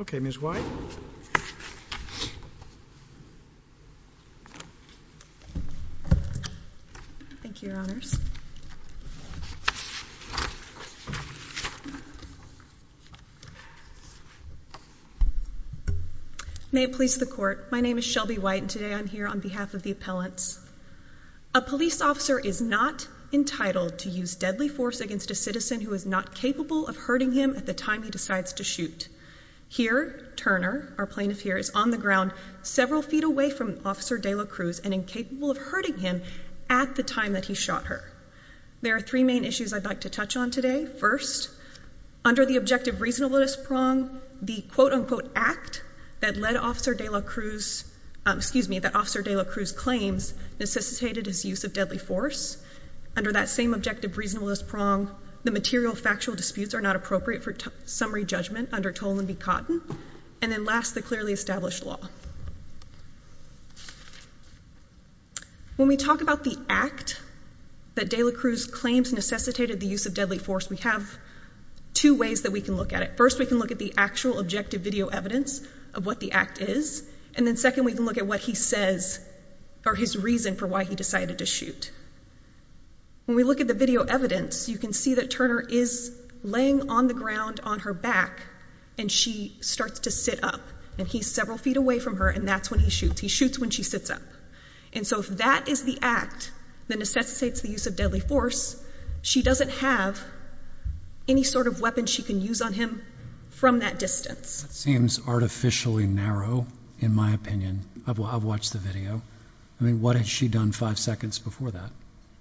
Okay, Ms. White. Thank you, your honors. May it please the court. My name is Shelby White, and today I'm here on behalf of the appellants. A police officer is not entitled to use deadly force against a citizen who is not capable of hurting him at the time he decides to shoot. Here, Turner, our plaintiff here, is on the ground several feet away from Officer De La Cruz and incapable of hurting him at the time that he shot her. There are three main issues I'd like to touch on today. First, under the objective reasonableness prong, the quote-unquote act that led Officer De La Cruz, excuse me, that Officer De La Cruz claims necessitated his use of deadly force. Under that same objective reasonableness prong, the material factual disputes are not appropriate for summary judgment under toll and be caught, and then last, the clearly established law. When we talk about the act that De La Cruz claims necessitated the use of deadly force, we have two ways that we can look at it. First, we can look at the actual objective video evidence of what the act is, and then second, we can look at what he says or his reason for why he decided to shoot. When we look at the video evidence, you can see that Turner is laying on the ground on her back, and she starts to sit up, and he's several feet away from her, and that's when he shoots. He shoots when she sits up. And so if that is the act that necessitates the use of deadly force, she doesn't have any sort of weapon she can use on him from that distance. It seems artificially narrow, in my opinion. I've watched the video. I mean, what had she done five seconds before that?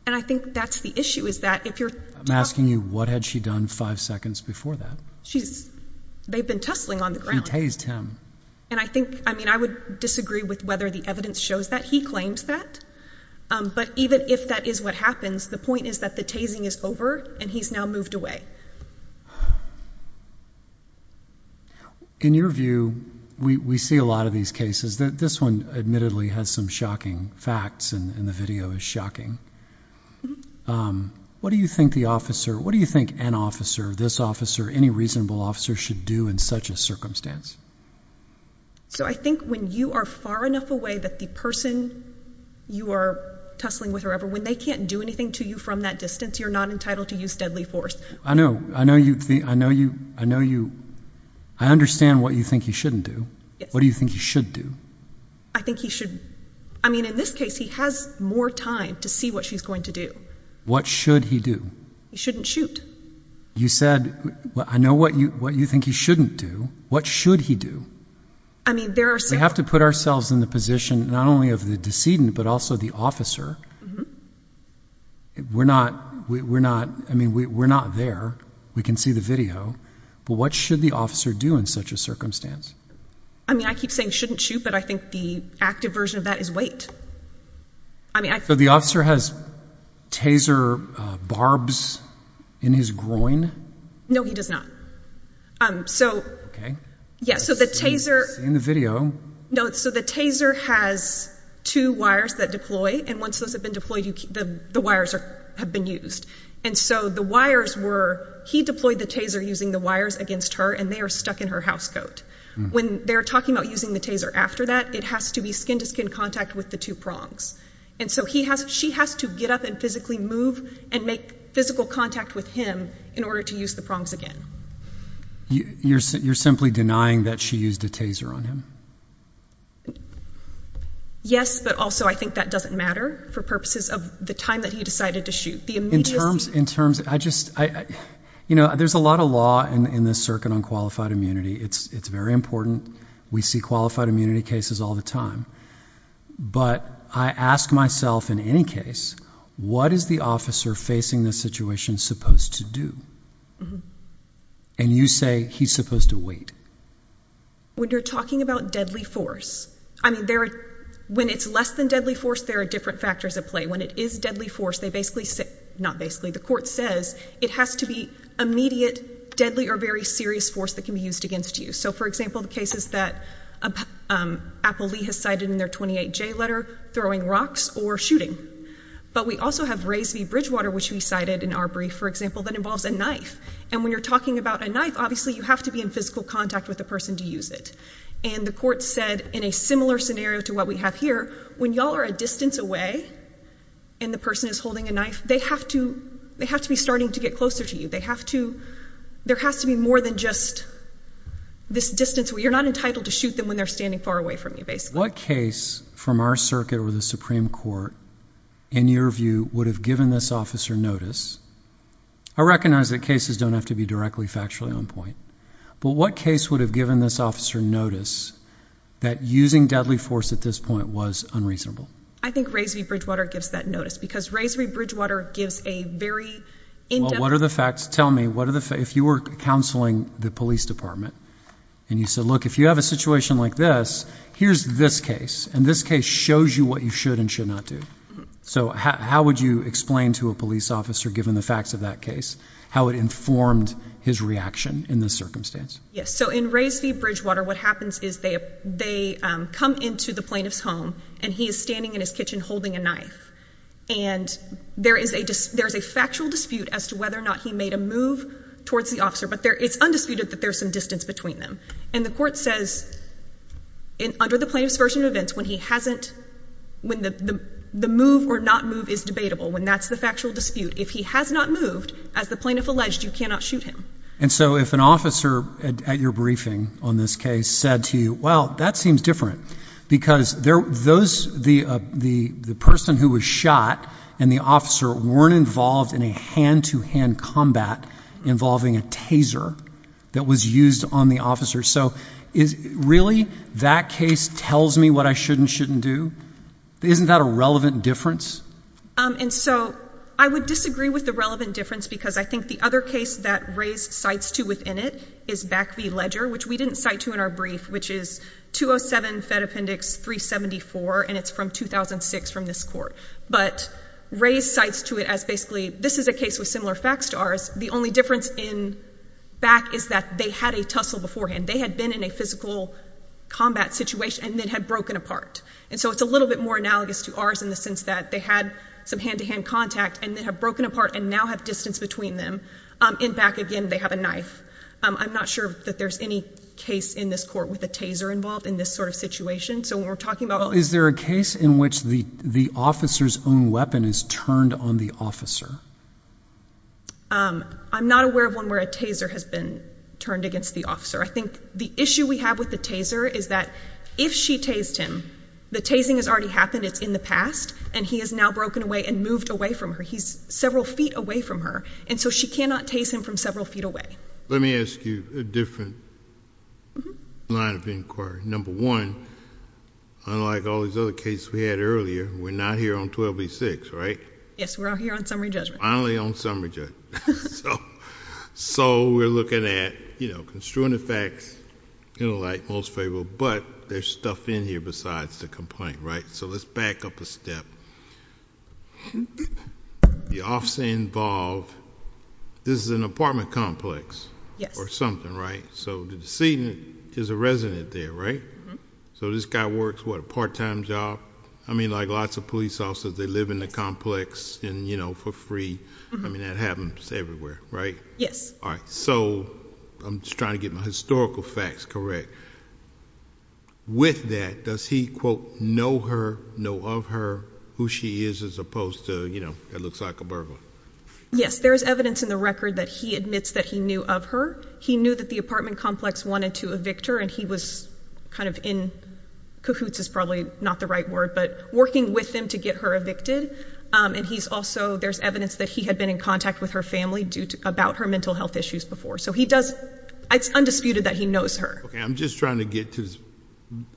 And I think that's the issue, is that if you're... I'm asking you, what had she done five seconds before that? She's... They've been tussling on the ground. He tased him. And I think, I mean, I would disagree with whether the evidence shows that. He claims that, but even if that is what happens, the point is that the tasing is over, and he's now moved away. In your view, we see a lot of these cases. This one, admittedly, has some shocking facts, and the video is shocking. What do you think the officer... What do you think an officer, this officer, any reasonable officer, should do in such a circumstance? So I think when you are far enough away that the person you are tussling with or whoever, when they can't do anything to you from that distance, you're not entitled to use deadly force. I know. I know you... I know you... I know you... I understand what you think he shouldn't do. What do you think he should do? I think he should... I mean, in this case, he has more time to see what she's going to do. What should he do? He shouldn't shoot. You said... I know what you think he shouldn't do. What should he do? I mean, there are... We have to put ourselves in the position, not only of the decedent, but also the officer. We're not... We're not... I mean, we're not there. We can see the video, but what should the officer do in such a circumstance? I mean, I keep saying shouldn't shoot, but I think the active version of that is wait. I mean, I... So the officer has taser barbs in his groin? No, he does not. So... Okay. Yeah, so the taser... We've seen the video. No, so the taser has two wires that deploy, and once those have been deployed, the wires have been used. And so the wires were... He deployed the taser using the wires against her, and they are stuck in her housecoat. When they're talking about using the taser after that, it has to be skin-to-skin contact with the two prongs. And so he has... She has to get up and physically move and make physical contact with him in order to use the prongs again. You're simply denying that she used a taser on him? Yes, but also I think that doesn't matter for purposes of the time that he decided to shoot. The immediate... In terms... I just... You know, there's a lot of law in this circuit on qualified immunity. It's very important. We see qualified immunity cases all the time. But I ask myself, in any case, what is the officer facing this situation supposed to do? And you say he's supposed to wait. When you're talking about deadly force, I mean, there are... When it's less than deadly force, there are different factors at play. When it is deadly force, they basically say... Not basically, the court says it has to be immediate, deadly, or very serious force that can be used against you. So, for example, the cases that Apple Lee has cited in their 28J letter, throwing rocks or shooting. But we also have Rays v. Bridgewater, which we cited in our brief, for example, that involves a knife. And when you're talking about a knife, obviously, you have to be in physical contact with the person to use it. And the court said, in a similar scenario to what we have here, when y'all are a distance away and the person is holding a knife, they have to... They have to be starting to get closer to you. They have to... There has to be more than just this distance where you're not entitled to shoot them when they're standing far away from you, basically. What case from our circuit or the Supreme Court, in your view, would have given this officer notice? I recognize that cases don't have to be directly, factually on point. But what case would have given this officer notice that using deadly force at this point was unreasonable? I think Rays v. Bridgewater gives that notice because Rays v. Bridgewater gives a very... Well, what are the facts? Tell me, what are the... If you were counseling the police department and you said, look, if you have a situation like this, here's this case, and this case shows you what you should and should not do. So how would you explain to a police officer, given the facts of that case, how it informed his reaction in this circumstance? Yes. So in Rays v. Bridgewater, what happens is they come into the plaintiff's home and he is standing in his kitchen holding a knife. And there is a factual dispute as to whether or not he made a move towards the officer. But it's undisputed that there's some distance between them. And the court says, under the plaintiff's version of events, when he hasn't... When the move or not move is debatable, when that's the factual dispute, if he has not moved, as the plaintiff alleged, you cannot shoot him. And so if an officer at your briefing on this case said to you, well, that seems different, because the person who was shot and the officer weren't involved in a hand-to-hand combat involving a taser that was used on the officer. So really, that case tells me what I should and shouldn't do? Isn't that a relevant difference? And so I would disagree with the relevant difference because I think the other case that Rays cites to within it is BAC v. Ledger, which we didn't cite to in our brief, which is 207 Fed Appendix 374, and it's from 2006 from this court. But Rays cites to it as basically, this is a case with similar facts to ours. The only difference in BAC is that they had a tussle beforehand. They had been in a physical combat situation and then had broken apart. And so it's a little bit more analogous to ours in the sense that they had some hand-to-hand contact and then have broken apart and now have distance between them. In BAC, again, they have a knife. I'm not sure that there's any case in this court with a taser involved in this sort of situation. So when we're talking about... Is there a case in which the officer's own weapon is turned on the officer? I'm not aware of one where a taser has been turned against the officer. I think the issue we have with the taser is that if she tased him, the tasing has already happened. It's in the past and he is now broken away and moved away from her. He's several feet away from her. And so she cannot tase him from several feet away. Let me ask you a different line of inquiry. Number one, unlike all these other cases we had earlier, we're not here on 12B6, right? Yes, we're here on summary judgment. Finally on summary judgment. So we're looking at construing the facts, you know, like most favorable, but there's stuff in here besides the complaint, right? So let's back up a step. The officer involved, this is an apartment complex or something, right? So the decedent is a resident there, right? So this guy works what, a part-time job? I mean, like lots of police officers, they live in the complex and, you know, for free. I mean, that happens everywhere, right? Yes. All right. So I'm just trying to get my historical facts correct. With that, does he, quote, know her, know of her, who she is as opposed to, you know, that looks like a burglar? Yes. There's evidence in the record that he admits that he knew of her. He knew that the apartment complex wanted to evict her and he was kind of in, cahoots is probably not the right word, but working with him to get her evicted. And he's also, there's evidence that he had been in contact with her family due to, about her mental health issues before. So he does, it's undisputed that he knows her. Okay. I'm just trying to get to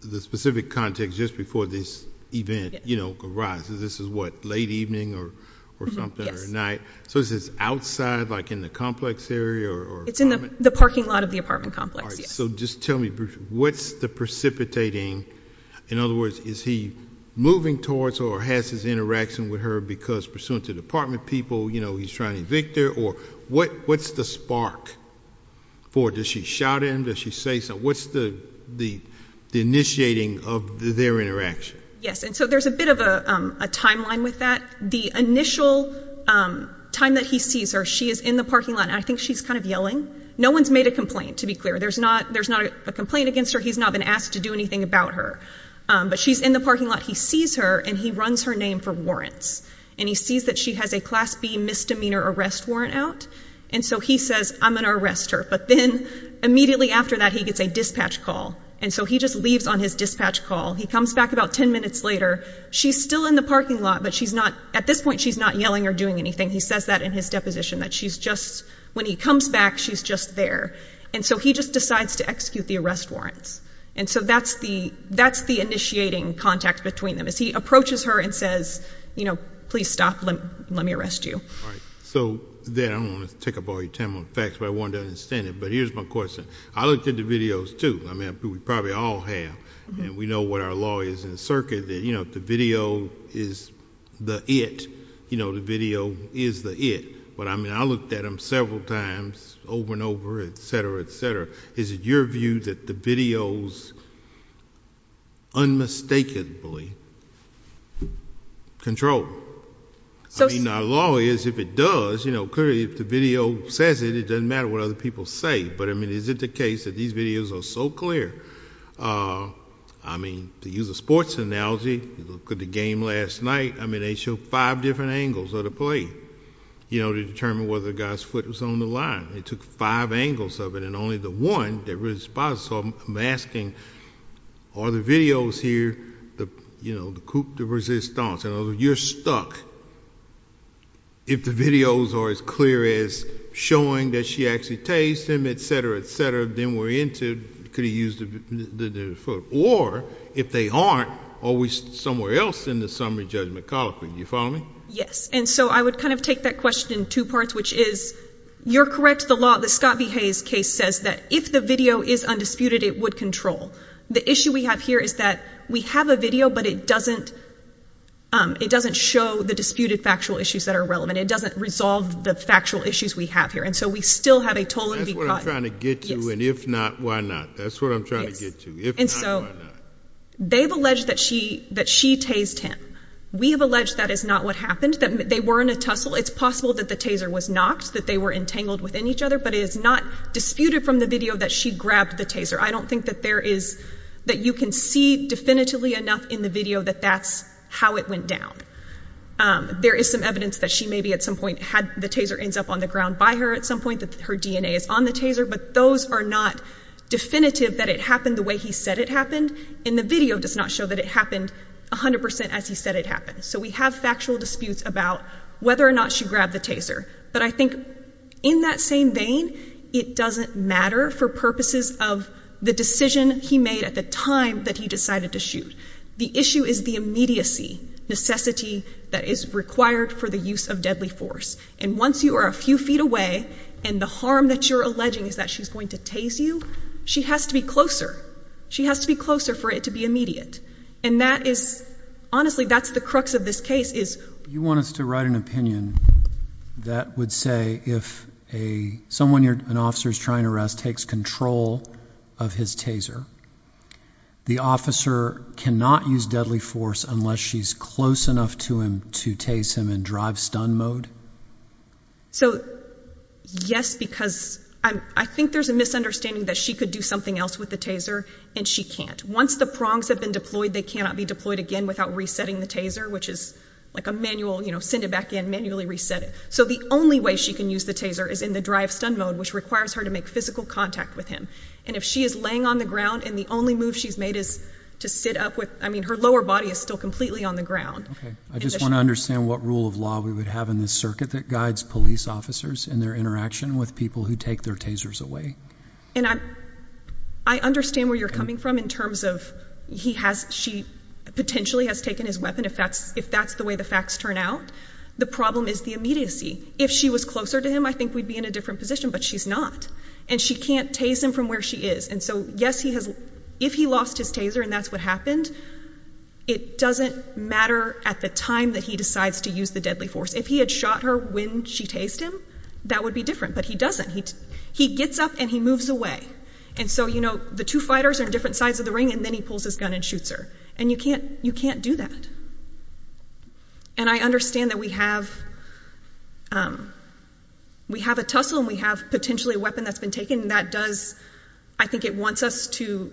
the specific context just before this event, you know, arises. This is what, late evening or something or night? So this is outside, like in the complex area? It's in the parking lot of the apartment complex. So just tell me, what's the precipitating, in other words, is he moving towards her or has his interaction with her because pursuant to the apartment people, you know, he's trying to evict her or what, what's the spark for, does she shout at him, does she say something? What's the initiating of their interaction? Yes. And so there's a bit of a timeline with that. The initial time that he sees her, she is in the parking lot and I think she's kind of yelling. No one's made a complaint to be clear. There's not, there's not a complaint against her. He's not been asked to do anything about her, but she's in the parking lot. He sees her and he runs her name for warrants and he sees that she has a class B misdemeanor arrest warrant out. And so he says, I'm going to arrest her. But then immediately after that, he gets a dispatch call. And so he just leaves on his dispatch call. He comes back about 10 minutes later. She's still in the parking lot, but she's not, at this point, she's not yelling or doing anything. He says that in his deposition that she's just, when he comes back, she's just there. And so he just decides to execute the arrest warrants. And so that's the, that's the initiating contact between them as he approaches her and says, you know, please stop, let me arrest you. All right. So then, I don't want to take up all your time on facts, but I mean, but here's my question. I looked at the videos too. I mean, we probably all have and we know what our law is in the circuit that, you know, the video is the it, you know, the video is the it, but I mean, I looked at them several times over and over, et cetera, et cetera. Is it your view that the videos unmistakably control? I mean, our law is if it does, you know, clearly if the video says it, it doesn't matter what other people say. But I mean, is it the case that these videos are so clear? I mean, to use a sports analogy, you look at the game last night. I mean, they show five different angles of the play, you know, to determine whether the guy's foot was on the line. It took five angles of it and only the one that responds. So I'm asking, are the videos here, the, you know, the coup de resistance, and you're stuck if the videos are as clear as showing that she actually tastes them, et cetera, et cetera, then we're into, could he use the foot, or if they aren't, are we somewhere else in the summary judgment colloquy? Do you follow me? Yes. And so I would kind of take that question in two parts, which is, you're correct. The law, the Scott B. Hayes case says that if the video is undisputed, it would control. The issue we have here is that we have a video, but it doesn't, it doesn't show the disputed factual issues that are relevant. And it doesn't resolve the factual issues we have here. And so we still have a total. And if not, why not? That's what I'm trying to get to. And so they've alleged that she, that she tased him. We have alleged that is not what happened, that they weren't a tussle. It's possible that the taser was knocked, that they were entangled within each other, but it is not disputed from the video that she grabbed the taser. I don't think that there is, that you can see definitively enough in the video that that's how it went down. There is some evidence that she may be at some point had the taser ends up on the ground by her at some point that her DNA is on the taser, but those are not definitive that it happened the way he said it happened in the video does not show that it happened a hundred percent as he said it happened. So we have factual disputes about whether or not she grabbed the taser, but I think in that same vein, it doesn't matter for purposes of the decision he made at the time that he decided to shoot. The issue is the immediacy necessity that is required for the use of deadly force. And once you are a few feet away and the harm that you're alleging is that she's going to tase you. She has to be closer. She has to be closer for it to be immediate and that is honestly that's the crux of this case is you want us to write an opinion that would say if a someone you're an officer is trying to arrest takes control of his taser. The officer cannot use deadly force unless she's close enough to him to tase him and drive stun mode. So yes, because I think there's a misunderstanding that she could do something else with the taser and she can't once the prongs have been deployed. They cannot be deployed again without resetting the taser, which is like a manual, you know, send it back in manually reset it. So the only way she can use the taser is in the drive stun mode, which requires her to make physical contact with him. And if she is laying on the ground and the only move she's made is to sit up with I mean her lower body is still completely on the ground. I just want to understand what rule of law we would have in this circuit that guides police officers and their interaction with people who take their tasers away and I'm I understand where you're coming from in terms of he has she potentially has taken his weapon if that's if that's the way the facts turn out the problem is the immediacy if she was closer to him. I think we'd be in a different position, but she's not and she can't tase him from where she is. And so yes, he has if he lost his taser and that's what happened. It doesn't matter at the time that he decides to use the deadly force. If he had shot her when she tased him that would be different but he doesn't he he gets up and he moves away. And so, you know, the two fighters are different sides of the ring and then he pulls his gun and shoots her and you can't you can't do that. And I understand that we have we have a tussle and we have potentially a weapon that's been taken that does I think it wants us to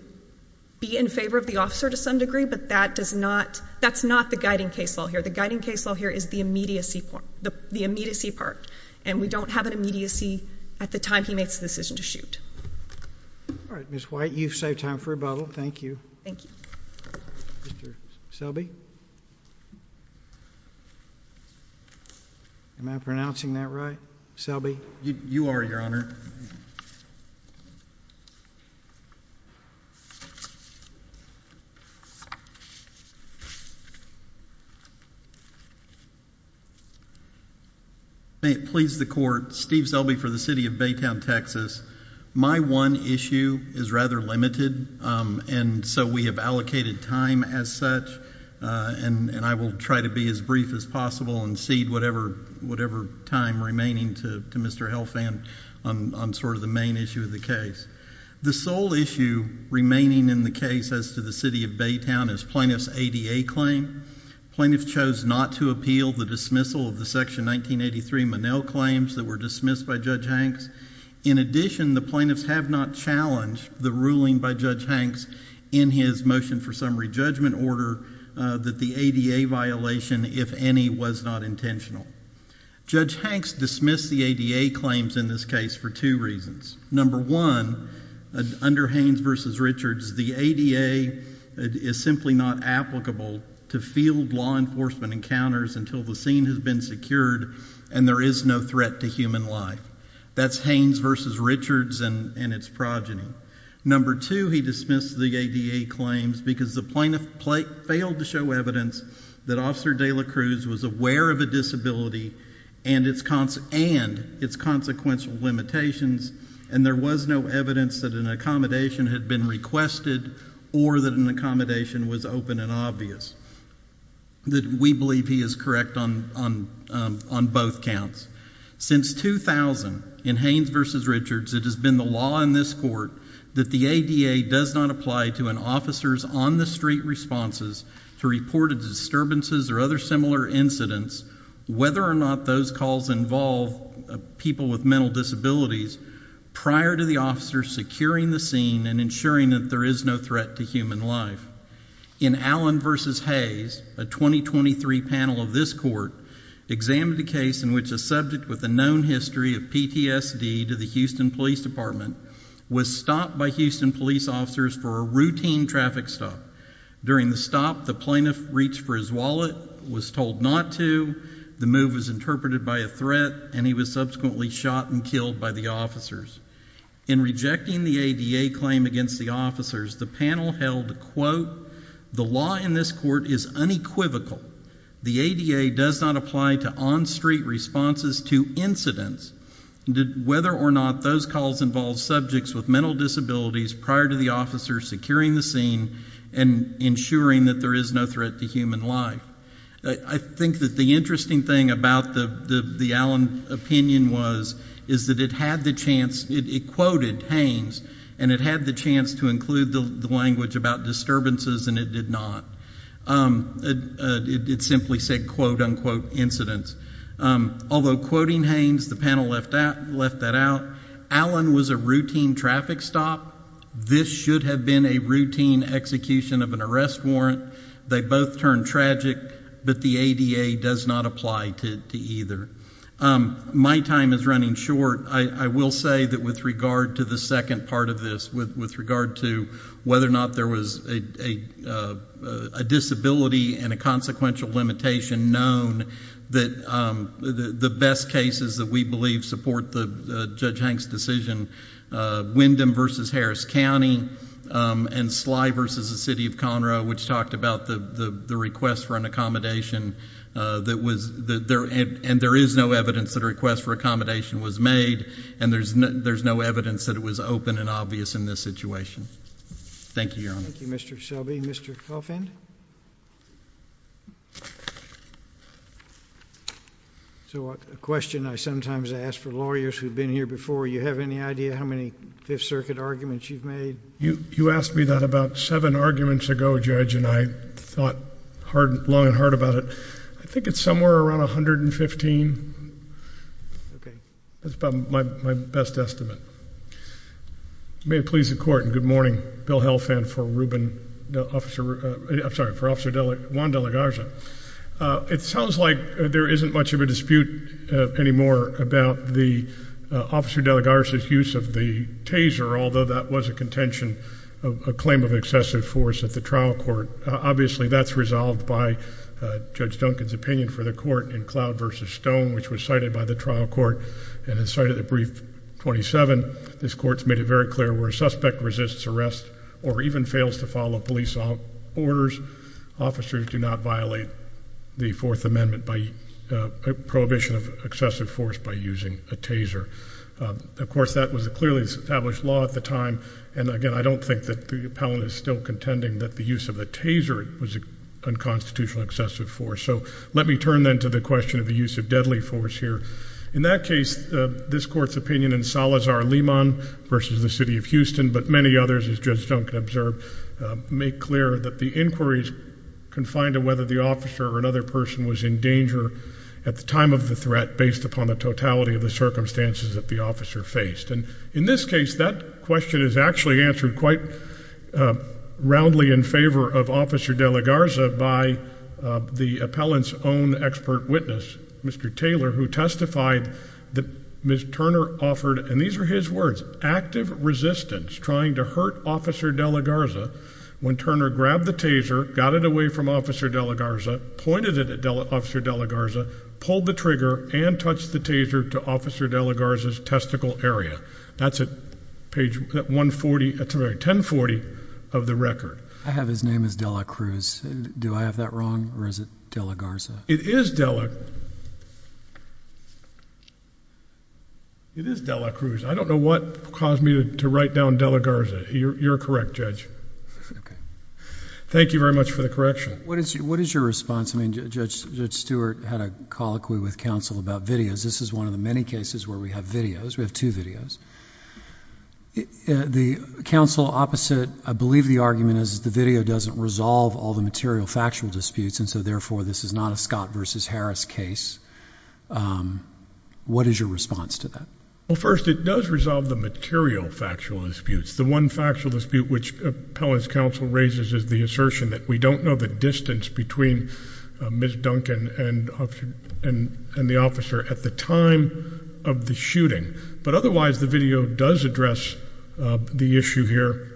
be in favor of the officer to some degree, but that does not that's not the guiding case law here. The guiding case law here is the immediacy for the immediacy part and we don't have an immediacy at the time. He makes the decision to shoot. All right, miss white. You've saved time for a bottle. Thank you. Thank you, Mr. Selby. Am I pronouncing that right? Selby you are your honor. May it please the court Steve Selby for the city of Baytown, Texas. My one issue is rather limited and so we have allocated time as such and I will try to be as brief as possible and seed whatever time remaining to Mr. Helfand on sort of the main issue of the case. The sole issue remaining in the case as to the city of Baytown is plaintiff's ADA claim. Plaintiff chose not to appeal the dismissal of the section 1983 Monell claims that were dismissed by Judge Hanks. In addition, the plaintiffs have not challenged the ruling by Judge Hanks in his motion for summary judgment order that the ADA violation, if any, was not intentional. Judge Hanks dismissed the ADA claims in this case for two reasons. Number one, under Haynes versus Richards, the ADA is simply not applicable to field law enforcement encounters until the scene has been secured and there is no threat to human life. That's Haynes versus Richards and its progeny. Number two, he dismissed the ADA claims because the plaintiff failed to show evidence that officer De La Cruz was aware of a disability and its consequential limitations and there was no evidence that an accommodation had been requested or that an accommodation was open and obvious. That we believe he is correct on both counts. Since 2000, in Haynes versus Richards, it has been the law in this court that the ADA does not apply to an officer's on street responses to reported disturbances or other similar incidents, whether or not those calls involve people with mental disabilities prior to the officer securing the scene and ensuring that there is no threat to human life. In Allen versus Hayes, a 2023 panel of this court examined the case in which a subject with a known history of PTSD to the Houston Police Department was stopped by Houston police officers for a routine traffic stop. During the stop, the plaintiff reached for his wallet, was told not to, the move was interpreted by a threat, and he was subsequently shot and killed by the officers. In rejecting the ADA claim against the officers, the panel held, quote, the law in this court is unequivocal. The ADA does not apply to on street responses to incidents whether or not those calls involve subjects with mental disabilities prior to the officer securing the scene and ensuring that there is no threat to human life. I think that the interesting thing about the Allen opinion was, is that it had the chance, it quoted Haynes, and it had the chance to include the language about disturbances and it did not. It simply said, quote, unquote, incidents. Although quoting Haynes, the panel left that out, Allen was a routine traffic stop, this should have been a routine execution of an arrest warrant. They both turned tragic, but the ADA does not apply to either. My time is running short. I will say that with regard to the second part of this, with regard to whether or not there was a disability and a consequential limitation known, that the best cases that we believe support the Judge Hank's decision, Wyndham versus Harris County and Sly versus the City of Conroe, which talked about the request for an accommodation that was, and there is no evidence that a request for accommodation was made and there's no evidence that it was open and obvious in this situation. Thank you, Your Honor. Thank you, Mr. Shelby. Mr. Coffin. So a question I sometimes ask for lawyers who've been here before, you have any idea how many Fifth Circuit arguments you've made? You asked me that about seven arguments ago, Judge, and I thought long and hard about it. I think it's somewhere around 115. Okay. That's about my best estimate. May it please the Court and good morning. I'm Bill Helfand for Ruben, officer, I'm sorry, for Officer Juan De La Garza. It sounds like there isn't much of a dispute anymore about the Officer De La Garza's use of the taser, although that was a contention, a claim of excessive force at the trial court. Obviously, that's resolved by Judge Duncan's opinion for the court in Cloud versus Stone, which was cited by the trial court and in sight of the brief 27, this court's made it very clear where a suspect resists arrest or even fails to follow police orders, officers do not violate the Fourth Amendment by prohibition of excessive force by using a taser. Of course, that was a clearly established law at the time, and again, I don't think that the appellant is still contending that the use of the taser was unconstitutional excessive force. So let me turn then to the question of the use of deadly force here. In that case, this court's opinion in Salazar-Limon versus the City of Houston, but many others, as Judge Duncan observed, make clear that the inquiries confined to whether the officer or another person was in danger at the time of the threat based upon the totality of the circumstances that the officer faced. And in this case, that question is actually answered quite roundly in favor of Officer De La Garza by the appellant's own expert witness, Mr. Taylor, who testified that Ms. Turner offered, and these are his words, active resistance trying to hurt Officer De La Garza when Turner grabbed the taser, got it away from Officer De La Garza, pointed it at Officer De La Garza, pulled the trigger, and touched the taser to Officer De La Garza's testicle area. That's at page 140 of the record. I have his name as De La Cruz. Do I have that wrong or is it De La Garza? It is De La... It is De La Cruz. I don't know what caused me to write down De La Garza. You're correct, Judge. Thank you very much for the correction. What is your response? I mean, Judge Stewart had a colloquy with counsel about videos. This is one of the many cases where we have videos, we have two videos. The counsel opposite, I believe the argument is the video doesn't resolve all the material factual disputes and so therefore this is not a Scott versus Harris case. What is your response to that? Well, first, it does resolve the material factual disputes. The one factual dispute which appellant's counsel raises is the assertion that we don't know the distance between Ms. Duncan and the officer at the time of the shooting, but otherwise the video does address the issue here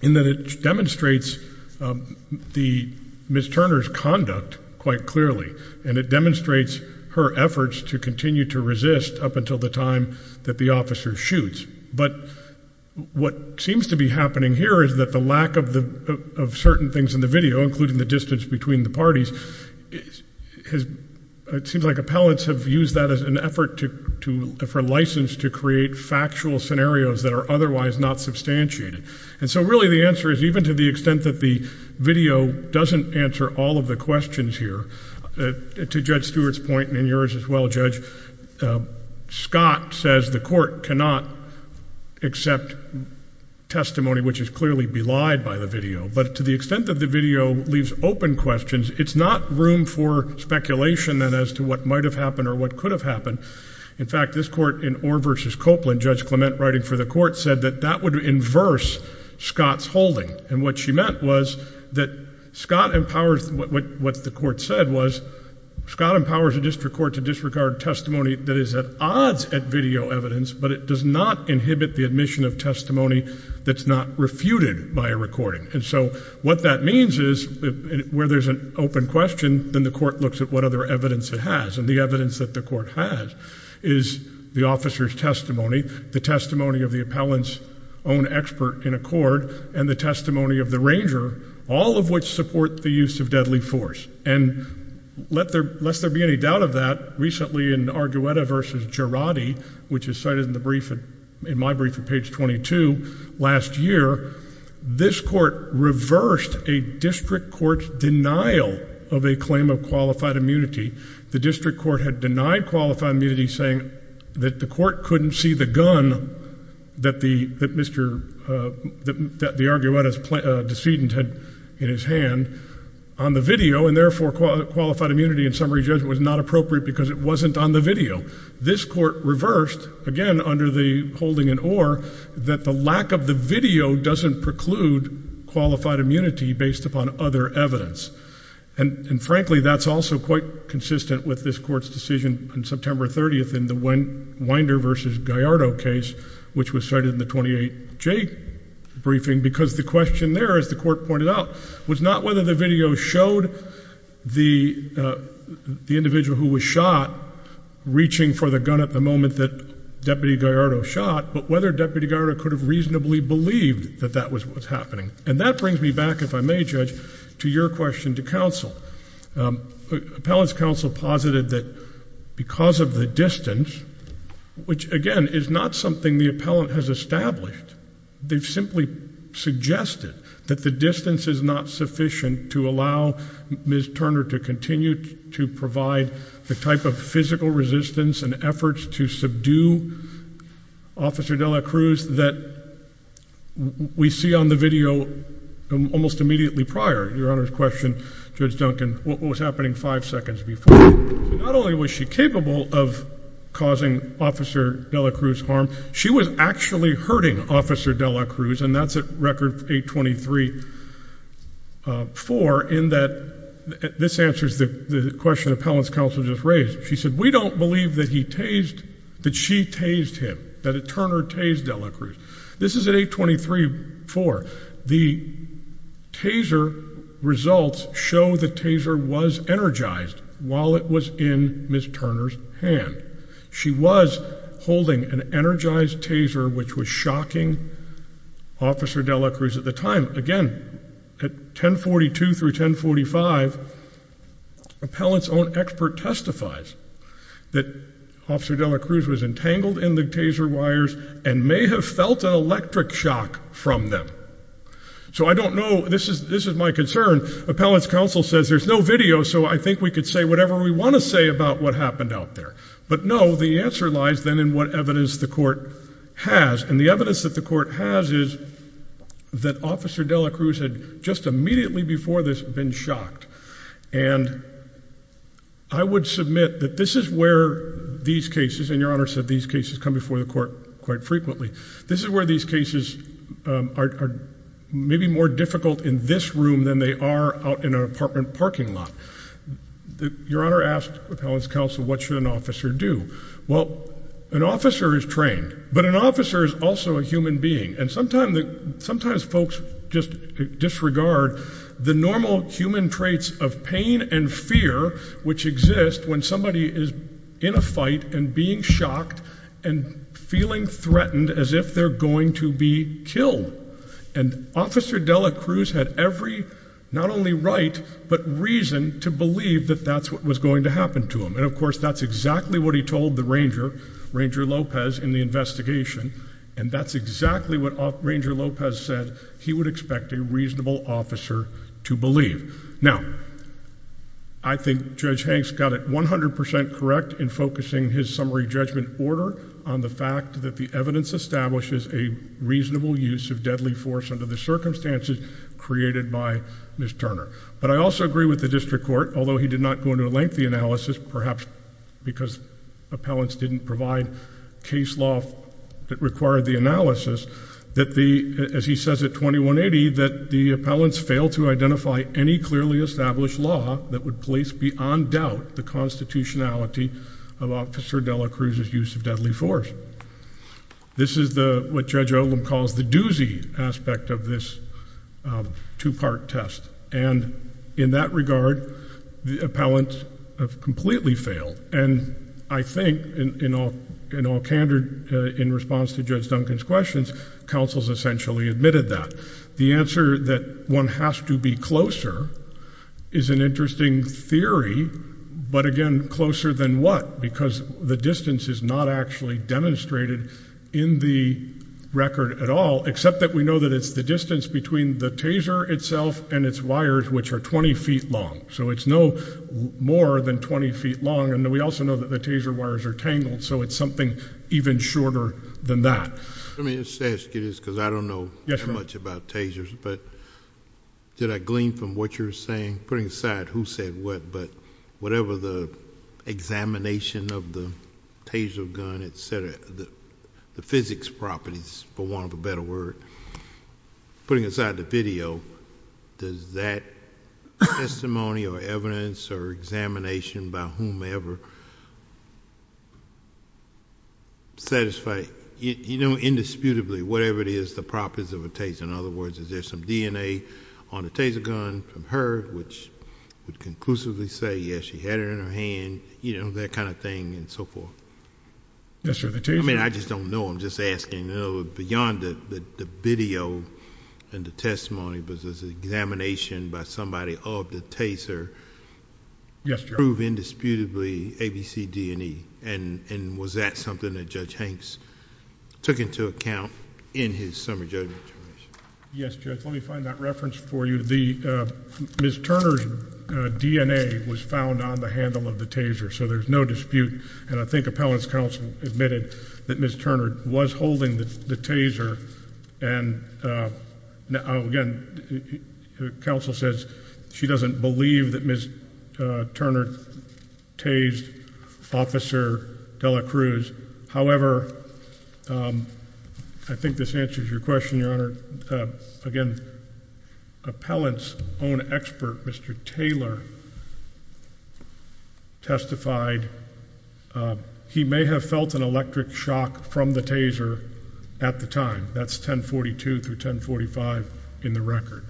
in that it demonstrates the Ms. Turner's position quite clearly and it demonstrates her efforts to continue to resist up until the time that the officer shoots, but what seems to be happening here is that the lack of certain things in the video, including the distance between the parties, it seems like appellants have used that as an effort for license to create factual scenarios that are otherwise not substantiated. And so really the answer is even to the extent that the video doesn't answer all of the questions here, to Judge Stewart's point and in yours as well, Judge, Scott says the court cannot accept testimony which is clearly belied by the video, but to the extent that the video leaves open questions, it's not room for speculation as to what might have happened or what could have happened. In fact, this court in Orr versus Copeland, Judge Clement writing for the court said that that would inverse Scott's holding and what she meant was that Scott empowers... what the court said was Scott empowers a district court to disregard testimony that is at odds at video evidence, but it does not inhibit the admission of testimony that's not refuted by a recording. And so what that means is where there's an open question, then the court looks at what other evidence it has and the evidence that the court has is the officer's testimony, the testimony of the appellant's own expert in accord, and the testimony of the ranger, all of which support the use of deadly force. And lest there be any doubt of that, recently in Argueta versus Gerardi, which is cited in my brief at page 22, last year, this court reversed a district court's denial of a claim of qualified immunity. The district court had denied qualified immunity saying that the court... that the Argueta's decedent had in his hand on the video and therefore qualified immunity in summary judgment was not appropriate because it wasn't on the video. This court reversed, again under the holding and or, that the lack of the video doesn't preclude qualified immunity based upon other evidence. And frankly, that's also quite consistent with this court's decision on September 30th in the Winder versus Gallardo case, which was cited in the 28J briefing, because the question there, as the court pointed out, was not whether the video showed the individual who was shot reaching for the gun at the moment that Deputy Gallardo shot, but whether Deputy Gallardo could have reasonably believed that that was what was happening. And that brings me back, if I may, Judge, to your question to counsel. Appellant's counsel posited that because of the distance, which again is not something the appellant has established, they've simply suggested that the distance is not sufficient to allow Ms. Turner to continue to provide the type of physical resistance and efforts to subdue Officer de la Cruz that we see on the video almost immediately prior. Your Honor's question, Judge Duncan, what was happening five seconds before? Not only was she capable of causing Officer de la Cruz harm, she was actually hurting Officer de la Cruz, and that's at record 823-4 in that this answers the question appellant's counsel just raised. She said, we don't believe that he tased, that she tased him, that Turner tased de la Cruz. This is at 823-4. The taser results show the taser was energized while it was in Ms. Turner's hand. She was holding an energized taser, which was shocking Officer de la Cruz at the time. Again, at 1042-1045, appellant's own expert testifies that Officer de la Cruz was entangled in the taser wires and may have felt an electric shock from them. So I don't know, this is my concern, appellant's counsel says there's no video, so I think we could say whatever we want to say about what happened out there. But no, the answer lies then in what evidence the court has, and the evidence that the court has is that Officer de la Cruz had just immediately before this been shocked. And I would submit that this is where these cases, and Your Honor said these cases come before the court quite frequently, this is where these cases are maybe more difficult in this room than they are out in an apartment parking lot. Your Honor asked appellant's counsel, what should an officer do? Well, an officer is trained, but an officer is also a human being, and sometimes folks just disregard the normal human traits of pain and fear, which exist when somebody is in a fight and being shocked and feeling threatened as if they're going to be killed. And Officer de la Cruz had every, not only right, but reason to believe that that's what was going to happen to him. And of course, that's exactly what he told the ranger, Ranger Lopez, in the investigation, and that's exactly what Ranger Lopez said he would expect a reasonable officer to believe. Now, I think Judge Hanks got it 100% correct in focusing his summary judgment order on the fact that the evidence establishes a reasonable use of deadly force under the circumstances created by Ms. Turner. But I also agree with the district court, although he did not go into a lengthy analysis, perhaps because appellants didn't provide case law that required the analysis, that the, as he says at 2180, that the appellants failed to identify any clearly established law that would place beyond doubt the constitutionality of Officer de la Cruz's use of deadly force. This is what Judge Olam calls the doozy aspect of this two-part test. And in that regard, the appellants have completely failed. And I think, in all candor, in response to Judge Duncan's questions, counsels essentially admitted that. The answer that one has to be closer is an interesting theory. But again, closer than what? Because the distance is not actually demonstrated in the record at all, except that we know that it's the distance between the taser itself and its wires, which are 20 feet long. So it's no more than 20 feet long. And we also know that the taser wires are tangled. So it's something even shorter than that. Let me just ask you this, because I don't know that much about tasers. But did I glean from what you were saying? Putting aside who said what, but whatever the examination of the taser gun, et cetera, the physics properties, for want of a better word. Putting aside the video, does that testimony or evidence or examination by whomever satisfy? Indisputably, whatever it is, the properties of a taser. In other words, is there some DNA on the taser gun from her, which would conclusively say, yes, she had it in her hand, that kind of thing, and so forth? Yes, sir. The taser... I mean, I just don't know. I'm just asking. Beyond the video and the testimony, but is there an examination by somebody of the taser... Yes, your Honor.... prove indisputably ABCD&E? Was that something that Judge Hanks took into account in his summary judgment? Yes, Judge. Let me find that reference for you. Ms. Turner's DNA was found on the handle of the taser, so there's no dispute, and I think appellant's counsel admitted that Ms. Turner was holding the taser, and again, counsel says she doesn't believe that Ms. Turner tased Officer Dela Cruz. However, I think this answers your question, your Honor. Again, appellant's own expert, Mr. Taylor, testified he may have felt an electric shock from the taser at the time. That's 1042 through 1045 in the record.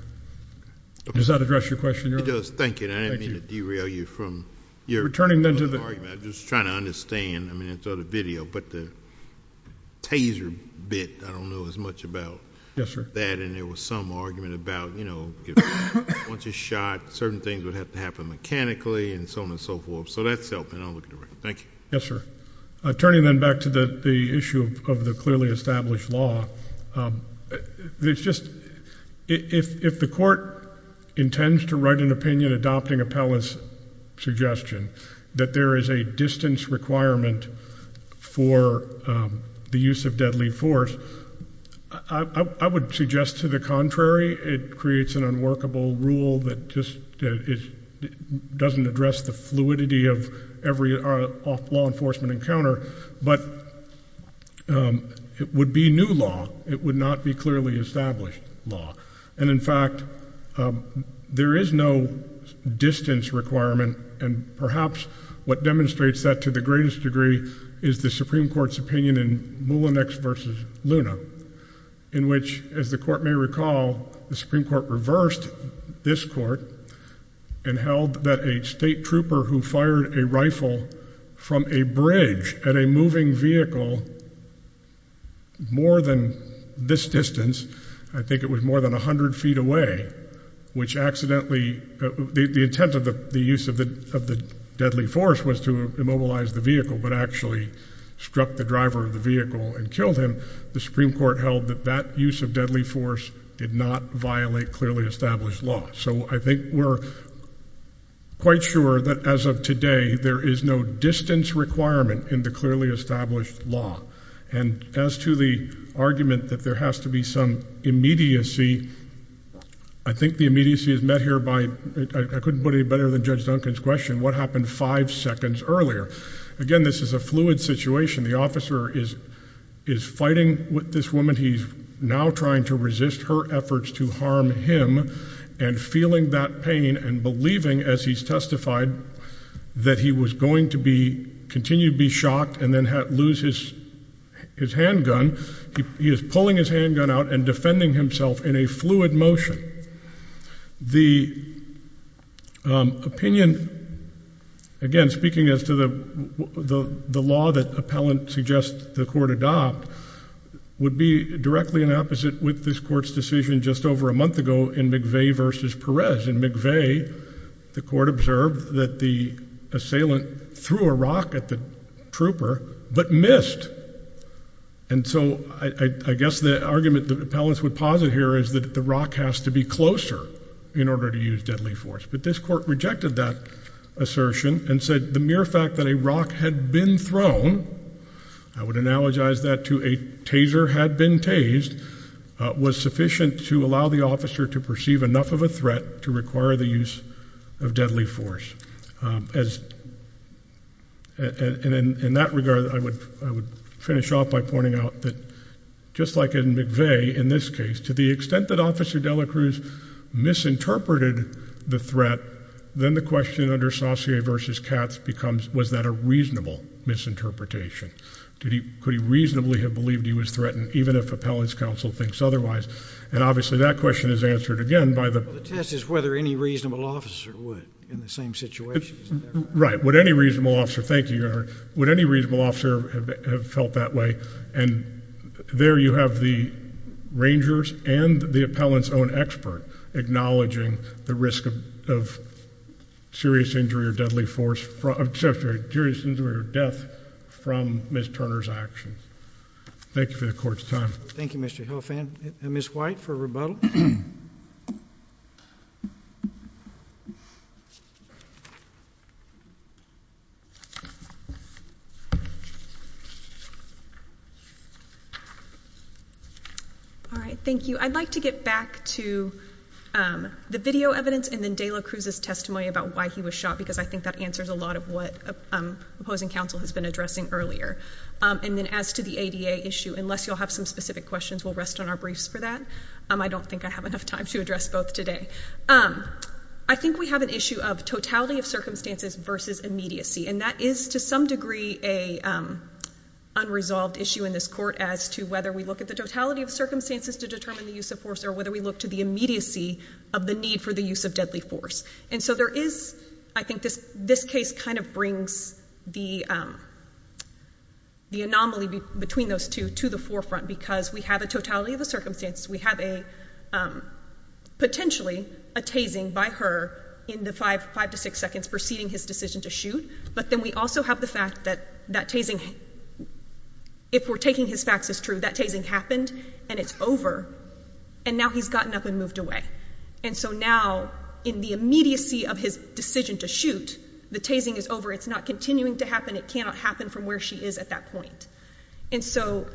Does that address your question, your Honor? It does. Thank you. I didn't mean to derail you from your... Returning then to the...... argument. I'm just trying to understand. I mean, it's on the video, but the taser bit, I don't know as much about... Yes, sir.... that, and there was some argument about, you know, once you're shot, certain things would have to happen mechanically and so on and so forth. So that's helping. I'll look at the record. Thank you. Yes, sir. Turning then back to the issue of the clearly established law, it's just... if the court intends to write an opinion adopting appellant's suggestion that there is a distance requirement for the use of deadly force, I would suggest to the contrary. It creates an unworkable rule that just doesn't address the fluidity of every law enforcement encounter, but it would be new law. It would not be clearly established law. And in fact, there is no distance requirement, and perhaps what demonstrates that to the greatest degree is the Supreme Court's opinion in Mullinex v. Luna, in which, as the court may recall, the Supreme Court reversed this court and held that a state trooper who fired a rifle from a bridge at a moving vehicle more than this distance, I think it was more than 100 feet away, which accidentally... the intent of the use of the deadly force was to immobilize the vehicle, but actually struck the driver of the vehicle and killed him. The Supreme Court held that that use of deadly force did not violate clearly established law. So I think we're quite sure that as of today, there is no distance requirement in the clearly established law. And as to the argument that there has to be some immediacy, I think the immediacy is met here by... I couldn't put it any better than Judge Duncan's question, what happened five seconds earlier? Again, this is a fluid situation. The officer is fighting with this woman. He's now trying to resist her efforts to harm him and feeling that pain and believing, as he's testified, that he was going to be... continue to be shocked and then lose his handgun. He is pulling his handgun out and defending himself in a fluid motion. The opinion... again, speaking as to the law that appellant suggests the court adopt would be directly in opposite with this court's decision just over a month ago in McVeigh v. Perez. In McVeigh, the court observed that the assailant threw a rock at the trooper but missed. And so I guess the argument that appellants would posit here is that the rock has to be closer in order to use deadly force. But this court rejected that assertion and said the mere fact that a rock had been thrown, I would analogize that to a taser had been tased, was sufficient to allow the officer to perceive enough of a threat to require the use of deadly force. In that regard, I would finish off by pointing out that just like in McVeigh, in this case, to the extent that Officer Delacruz misinterpreted the threat, then the question under Saussure v. Katz becomes was that a reasonable misinterpretation? Could he reasonably have believed he was threatened even if appellant's counsel thinks otherwise? And obviously that question is answered again by the... The test is whether any reasonable officer would in the same situation. Right. Would any reasonable officer, thank you, Your Honor, would any reasonable officer have felt that way? And there you have the rangers and the appellant's own expert acknowledging the risk of serious injury or deadly force, serious injury or death from Ms. Turner's actions. Thank you for the court's time. Thank you, Mr. Huff. And Ms. White for rebuttal. All right, thank you. I'd like to get back to the video evidence and then Delacruz's testimony about why he was shot because I think that answers a lot of what opposing counsel has been addressing earlier. And then as to the ADA issue, unless you'll have some specific questions, we'll rest on our briefs for that. I don't think I have enough time to address both today. I think we have an issue of totality of circumstances versus immediacy, and that is to some degree an unresolved issue in this court as to whether we look at the totality of circumstances to determine the use of force or whether we look to the immediacy of the need for the use of deadly force. And so there is, I think this case kind of brings the anomaly between those two to the forefront because we have a totality of the circumstances. We have a potentially a tasing by her in the five to six seconds preceding his decision to shoot, but then we also have the fact that that tasing, if we're taking his facts as true, that tasing happened and it's over, and now he's gotten up and moved away. And so now in the immediacy of his decision to shoot, the tasing is over. It's not continuing to happen. It cannot happen from where she is at that point. And so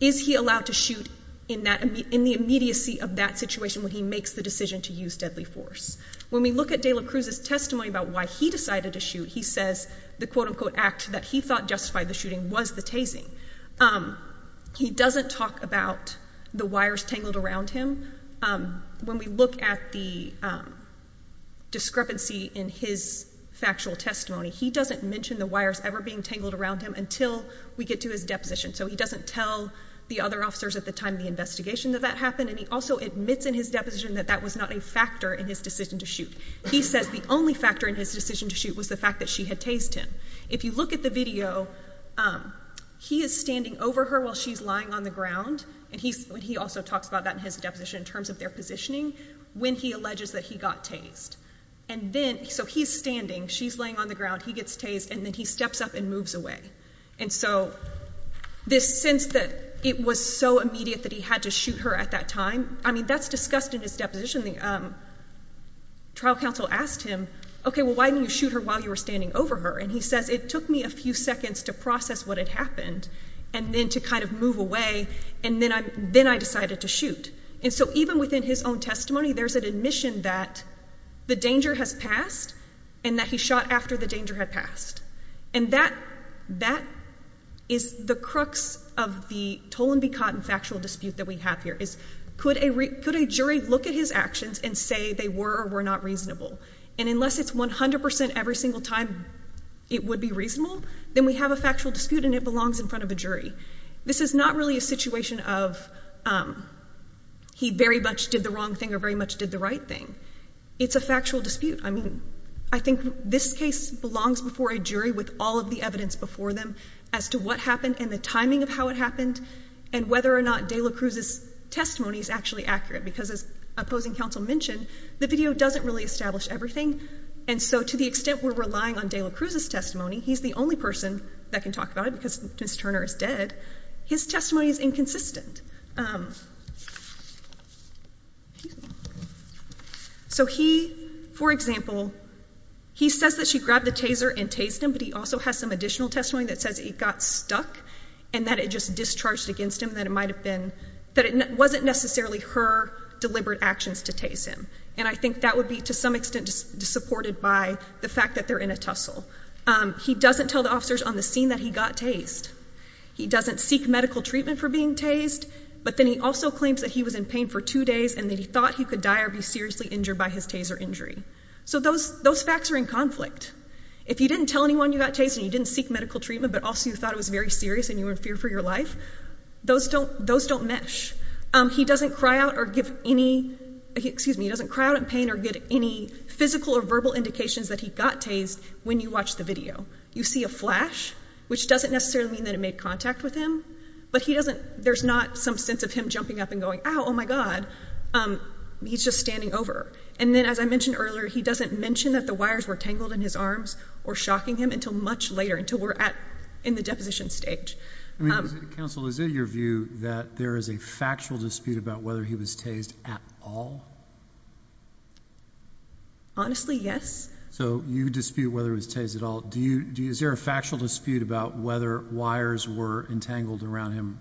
is he allowed to shoot in the immediacy of that situation when he makes the decision to use deadly force? When we look at Delacruz's testimony about why he decided to shoot, he says the quote-unquote act that he thought justified the shooting was the tasing. He doesn't talk about the wires tangled around him. When we look at the discrepancy in his factual testimony, he doesn't mention the wires ever being tangled around him until we get to his deposition. So he doesn't tell the other officers at the time of the investigation that that happened, and he also admits in his deposition that that was not a factor in his decision to shoot. He says the only factor in his decision to shoot was the fact that she had tased him. If you look at the video, he is standing over her while she's lying on the ground, and he also talks about that in his deposition in terms of their positioning, when he alleges that he got tased. So he's standing, she's laying on the ground, he gets tased, and then he steps up and moves away. And so this sense that it was so immediate that he had to shoot her at that time, I mean, that's discussed in his deposition. The trial counsel asked him, okay, well, why didn't you shoot her while you were standing over her? And he says, it took me a few seconds to process what had happened and then to kind of move away, and then I decided to shoot. And so even within his own testimony, there's an admission that the danger has passed and that he shot after the danger had passed. And that is the crux of the toll and be caught in factual dispute that we have here, is could a jury look at his actions and say they were or were not reasonable? And unless it's 100% every single time it would be reasonable, then we have a factual dispute and it belongs in front of a jury. This is not really a situation of he very much did the wrong thing or very much did the right thing. It's a factual dispute. I mean, I think this case belongs before a jury with all of the evidence before them as to what happened and the timing of how it happened and whether or not De La Cruz's testimony is actually accurate because as opposing counsel mentioned, the video doesn't really establish everything. And so to the extent we're relying on De La Cruz's testimony, he's the only person that can talk about it because Ms. Turner is dead. His testimony is inconsistent. So he, for example, he says that she grabbed the taser and tased him, but he also has some additional testimony that says he got stuck and that it just discharged against him, that it might have been, that it wasn't necessarily her deliberate actions to tase him. And I think that would be to some extent supported by the fact that they're in a tussle. He doesn't tell the officers on the scene that he got tased. He doesn't seek medical treatment for being tased, but then he also claims that he was in pain for two days and that he thought he could die or be seriously injured by his taser injury. So those facts are in conflict. If you didn't tell anyone you got tased and you didn't seek medical treatment but also you thought it was very serious and you were in fear for your life, those don't mesh. He doesn't cry out in pain or get any physical or verbal indications that he got tased when you watch the video. You see a flash, which doesn't necessarily mean that it made contact with him, but there's not some sense of him jumping up and going, oh, my God, he's just standing over. And then, as I mentioned earlier, he doesn't mention that the wires were tangled in his arms or shocking him until much later, until we're in the deposition stage. Counsel, is it your view that there is a factual dispute about whether he was tased at all? Honestly, yes. So you dispute whether he was tased at all. Is there a factual dispute about whether wires were entangled around him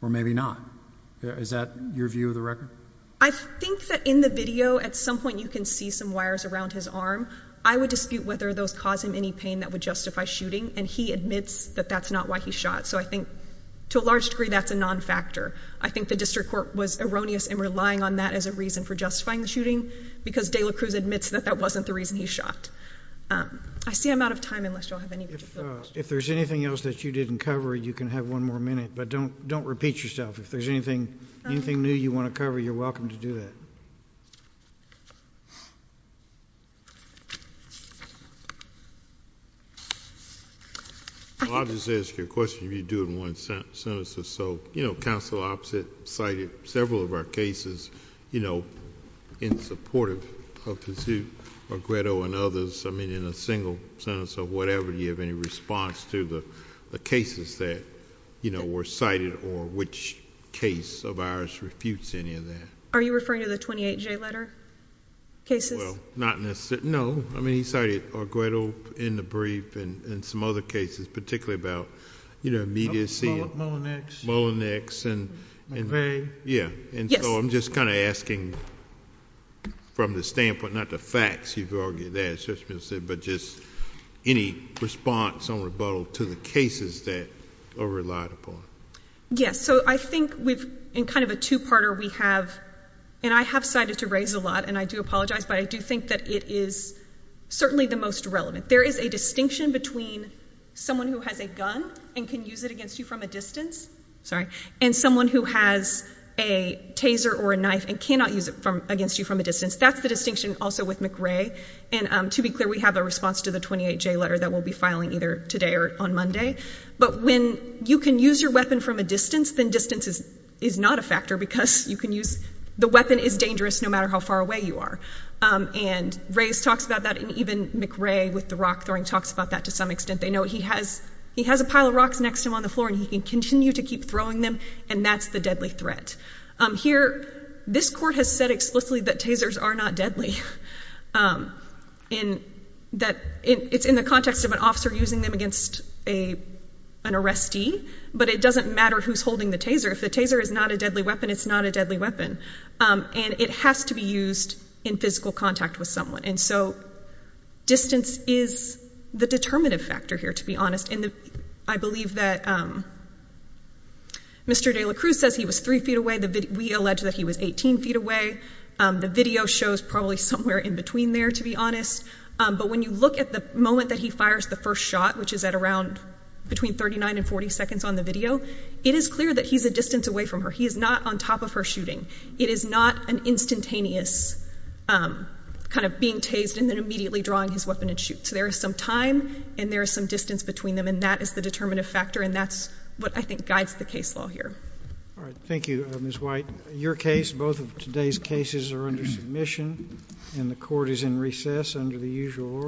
or maybe not? Is that your view of the record? I think that in the video at some point you can see some wires around his arm. I would dispute whether those cause him any pain that would justify shooting, and he admits that that's not why he shot. So I think, to a large degree, that's a non-factor. I think the district court was erroneous in relying on that as a reason for justifying the shooting because De La Cruz admits that that wasn't the reason he shot. I see I'm out of time unless you all have any further questions. If there's anything else that you didn't cover, you can have one more minute, but don't repeat yourself. If there's anything new you want to cover, you're welcome to do that. Well, I'll just ask you a question if you do it in one sentence or so. You know, counsel, I've cited several of our cases, you know, in support of Pazut or Guero and others. I mean, in a single sentence or whatever, do you have any response to the cases that, you know, were cited or which case of ours refutes any of that? Are you referring to the 28-J letter cases? Well, not necessarily. No. I mean, he cited Guero in the brief and some other cases, particularly about, you know, immediacy. Mullinex and... McVeigh. Yeah. Yes. And so I'm just kind of asking from the standpoint, not the facts you've argued there, as Judge Mills said, but just any response or rebuttal to the cases that are relied upon. Yes. So I think we've, in kind of a two-parter, we have, and I have cited to raise a lot, and I do apologize, but I do think that it is certainly the most relevant. There is a distinction between someone who has a gun and can use it against you from a distance, sorry, and someone who has a taser or a knife and cannot use it against you from a distance. That's the distinction also with McVeigh. And to be clear, we have a response to the 28J letter that we'll be filing either today or on Monday. But when you can use your weapon from a distance, then distance is not a factor because you can use... the weapon is dangerous no matter how far away you are. And Reyes talks about that, and even McVeigh with the rock throwing talks about that to some extent. They know he has a pile of rocks next to him on the floor and he can continue to keep throwing them, and that's the deadly threat. Here, this Court has said explicitly that tasers are not deadly. It's in the context of an officer using them against an arrestee, but it doesn't matter who's holding the taser. If the taser is not a deadly weapon, it's not a deadly weapon. And it has to be used in physical contact with someone. And so distance is the determinative factor here, to be honest. I believe that Mr. de la Cruz says he was 3 feet away. We allege that he was 18 feet away. The video shows probably somewhere in between there, to be honest. But when you look at the moment that he fires the first shot, which is at around between 39 and 40 seconds on the video, it is clear that he's a distance away from her. He is not on top of her shooting. It is not an instantaneous kind of being tased and then immediately drawing his weapon and shoot. So there is some time and there is some distance between them, and that is the determinative factor, and that's what I think guides the case law here. Thank you, Ms. White. Your case, both of today's cases, are under submission, and the court is in recess under the usual order.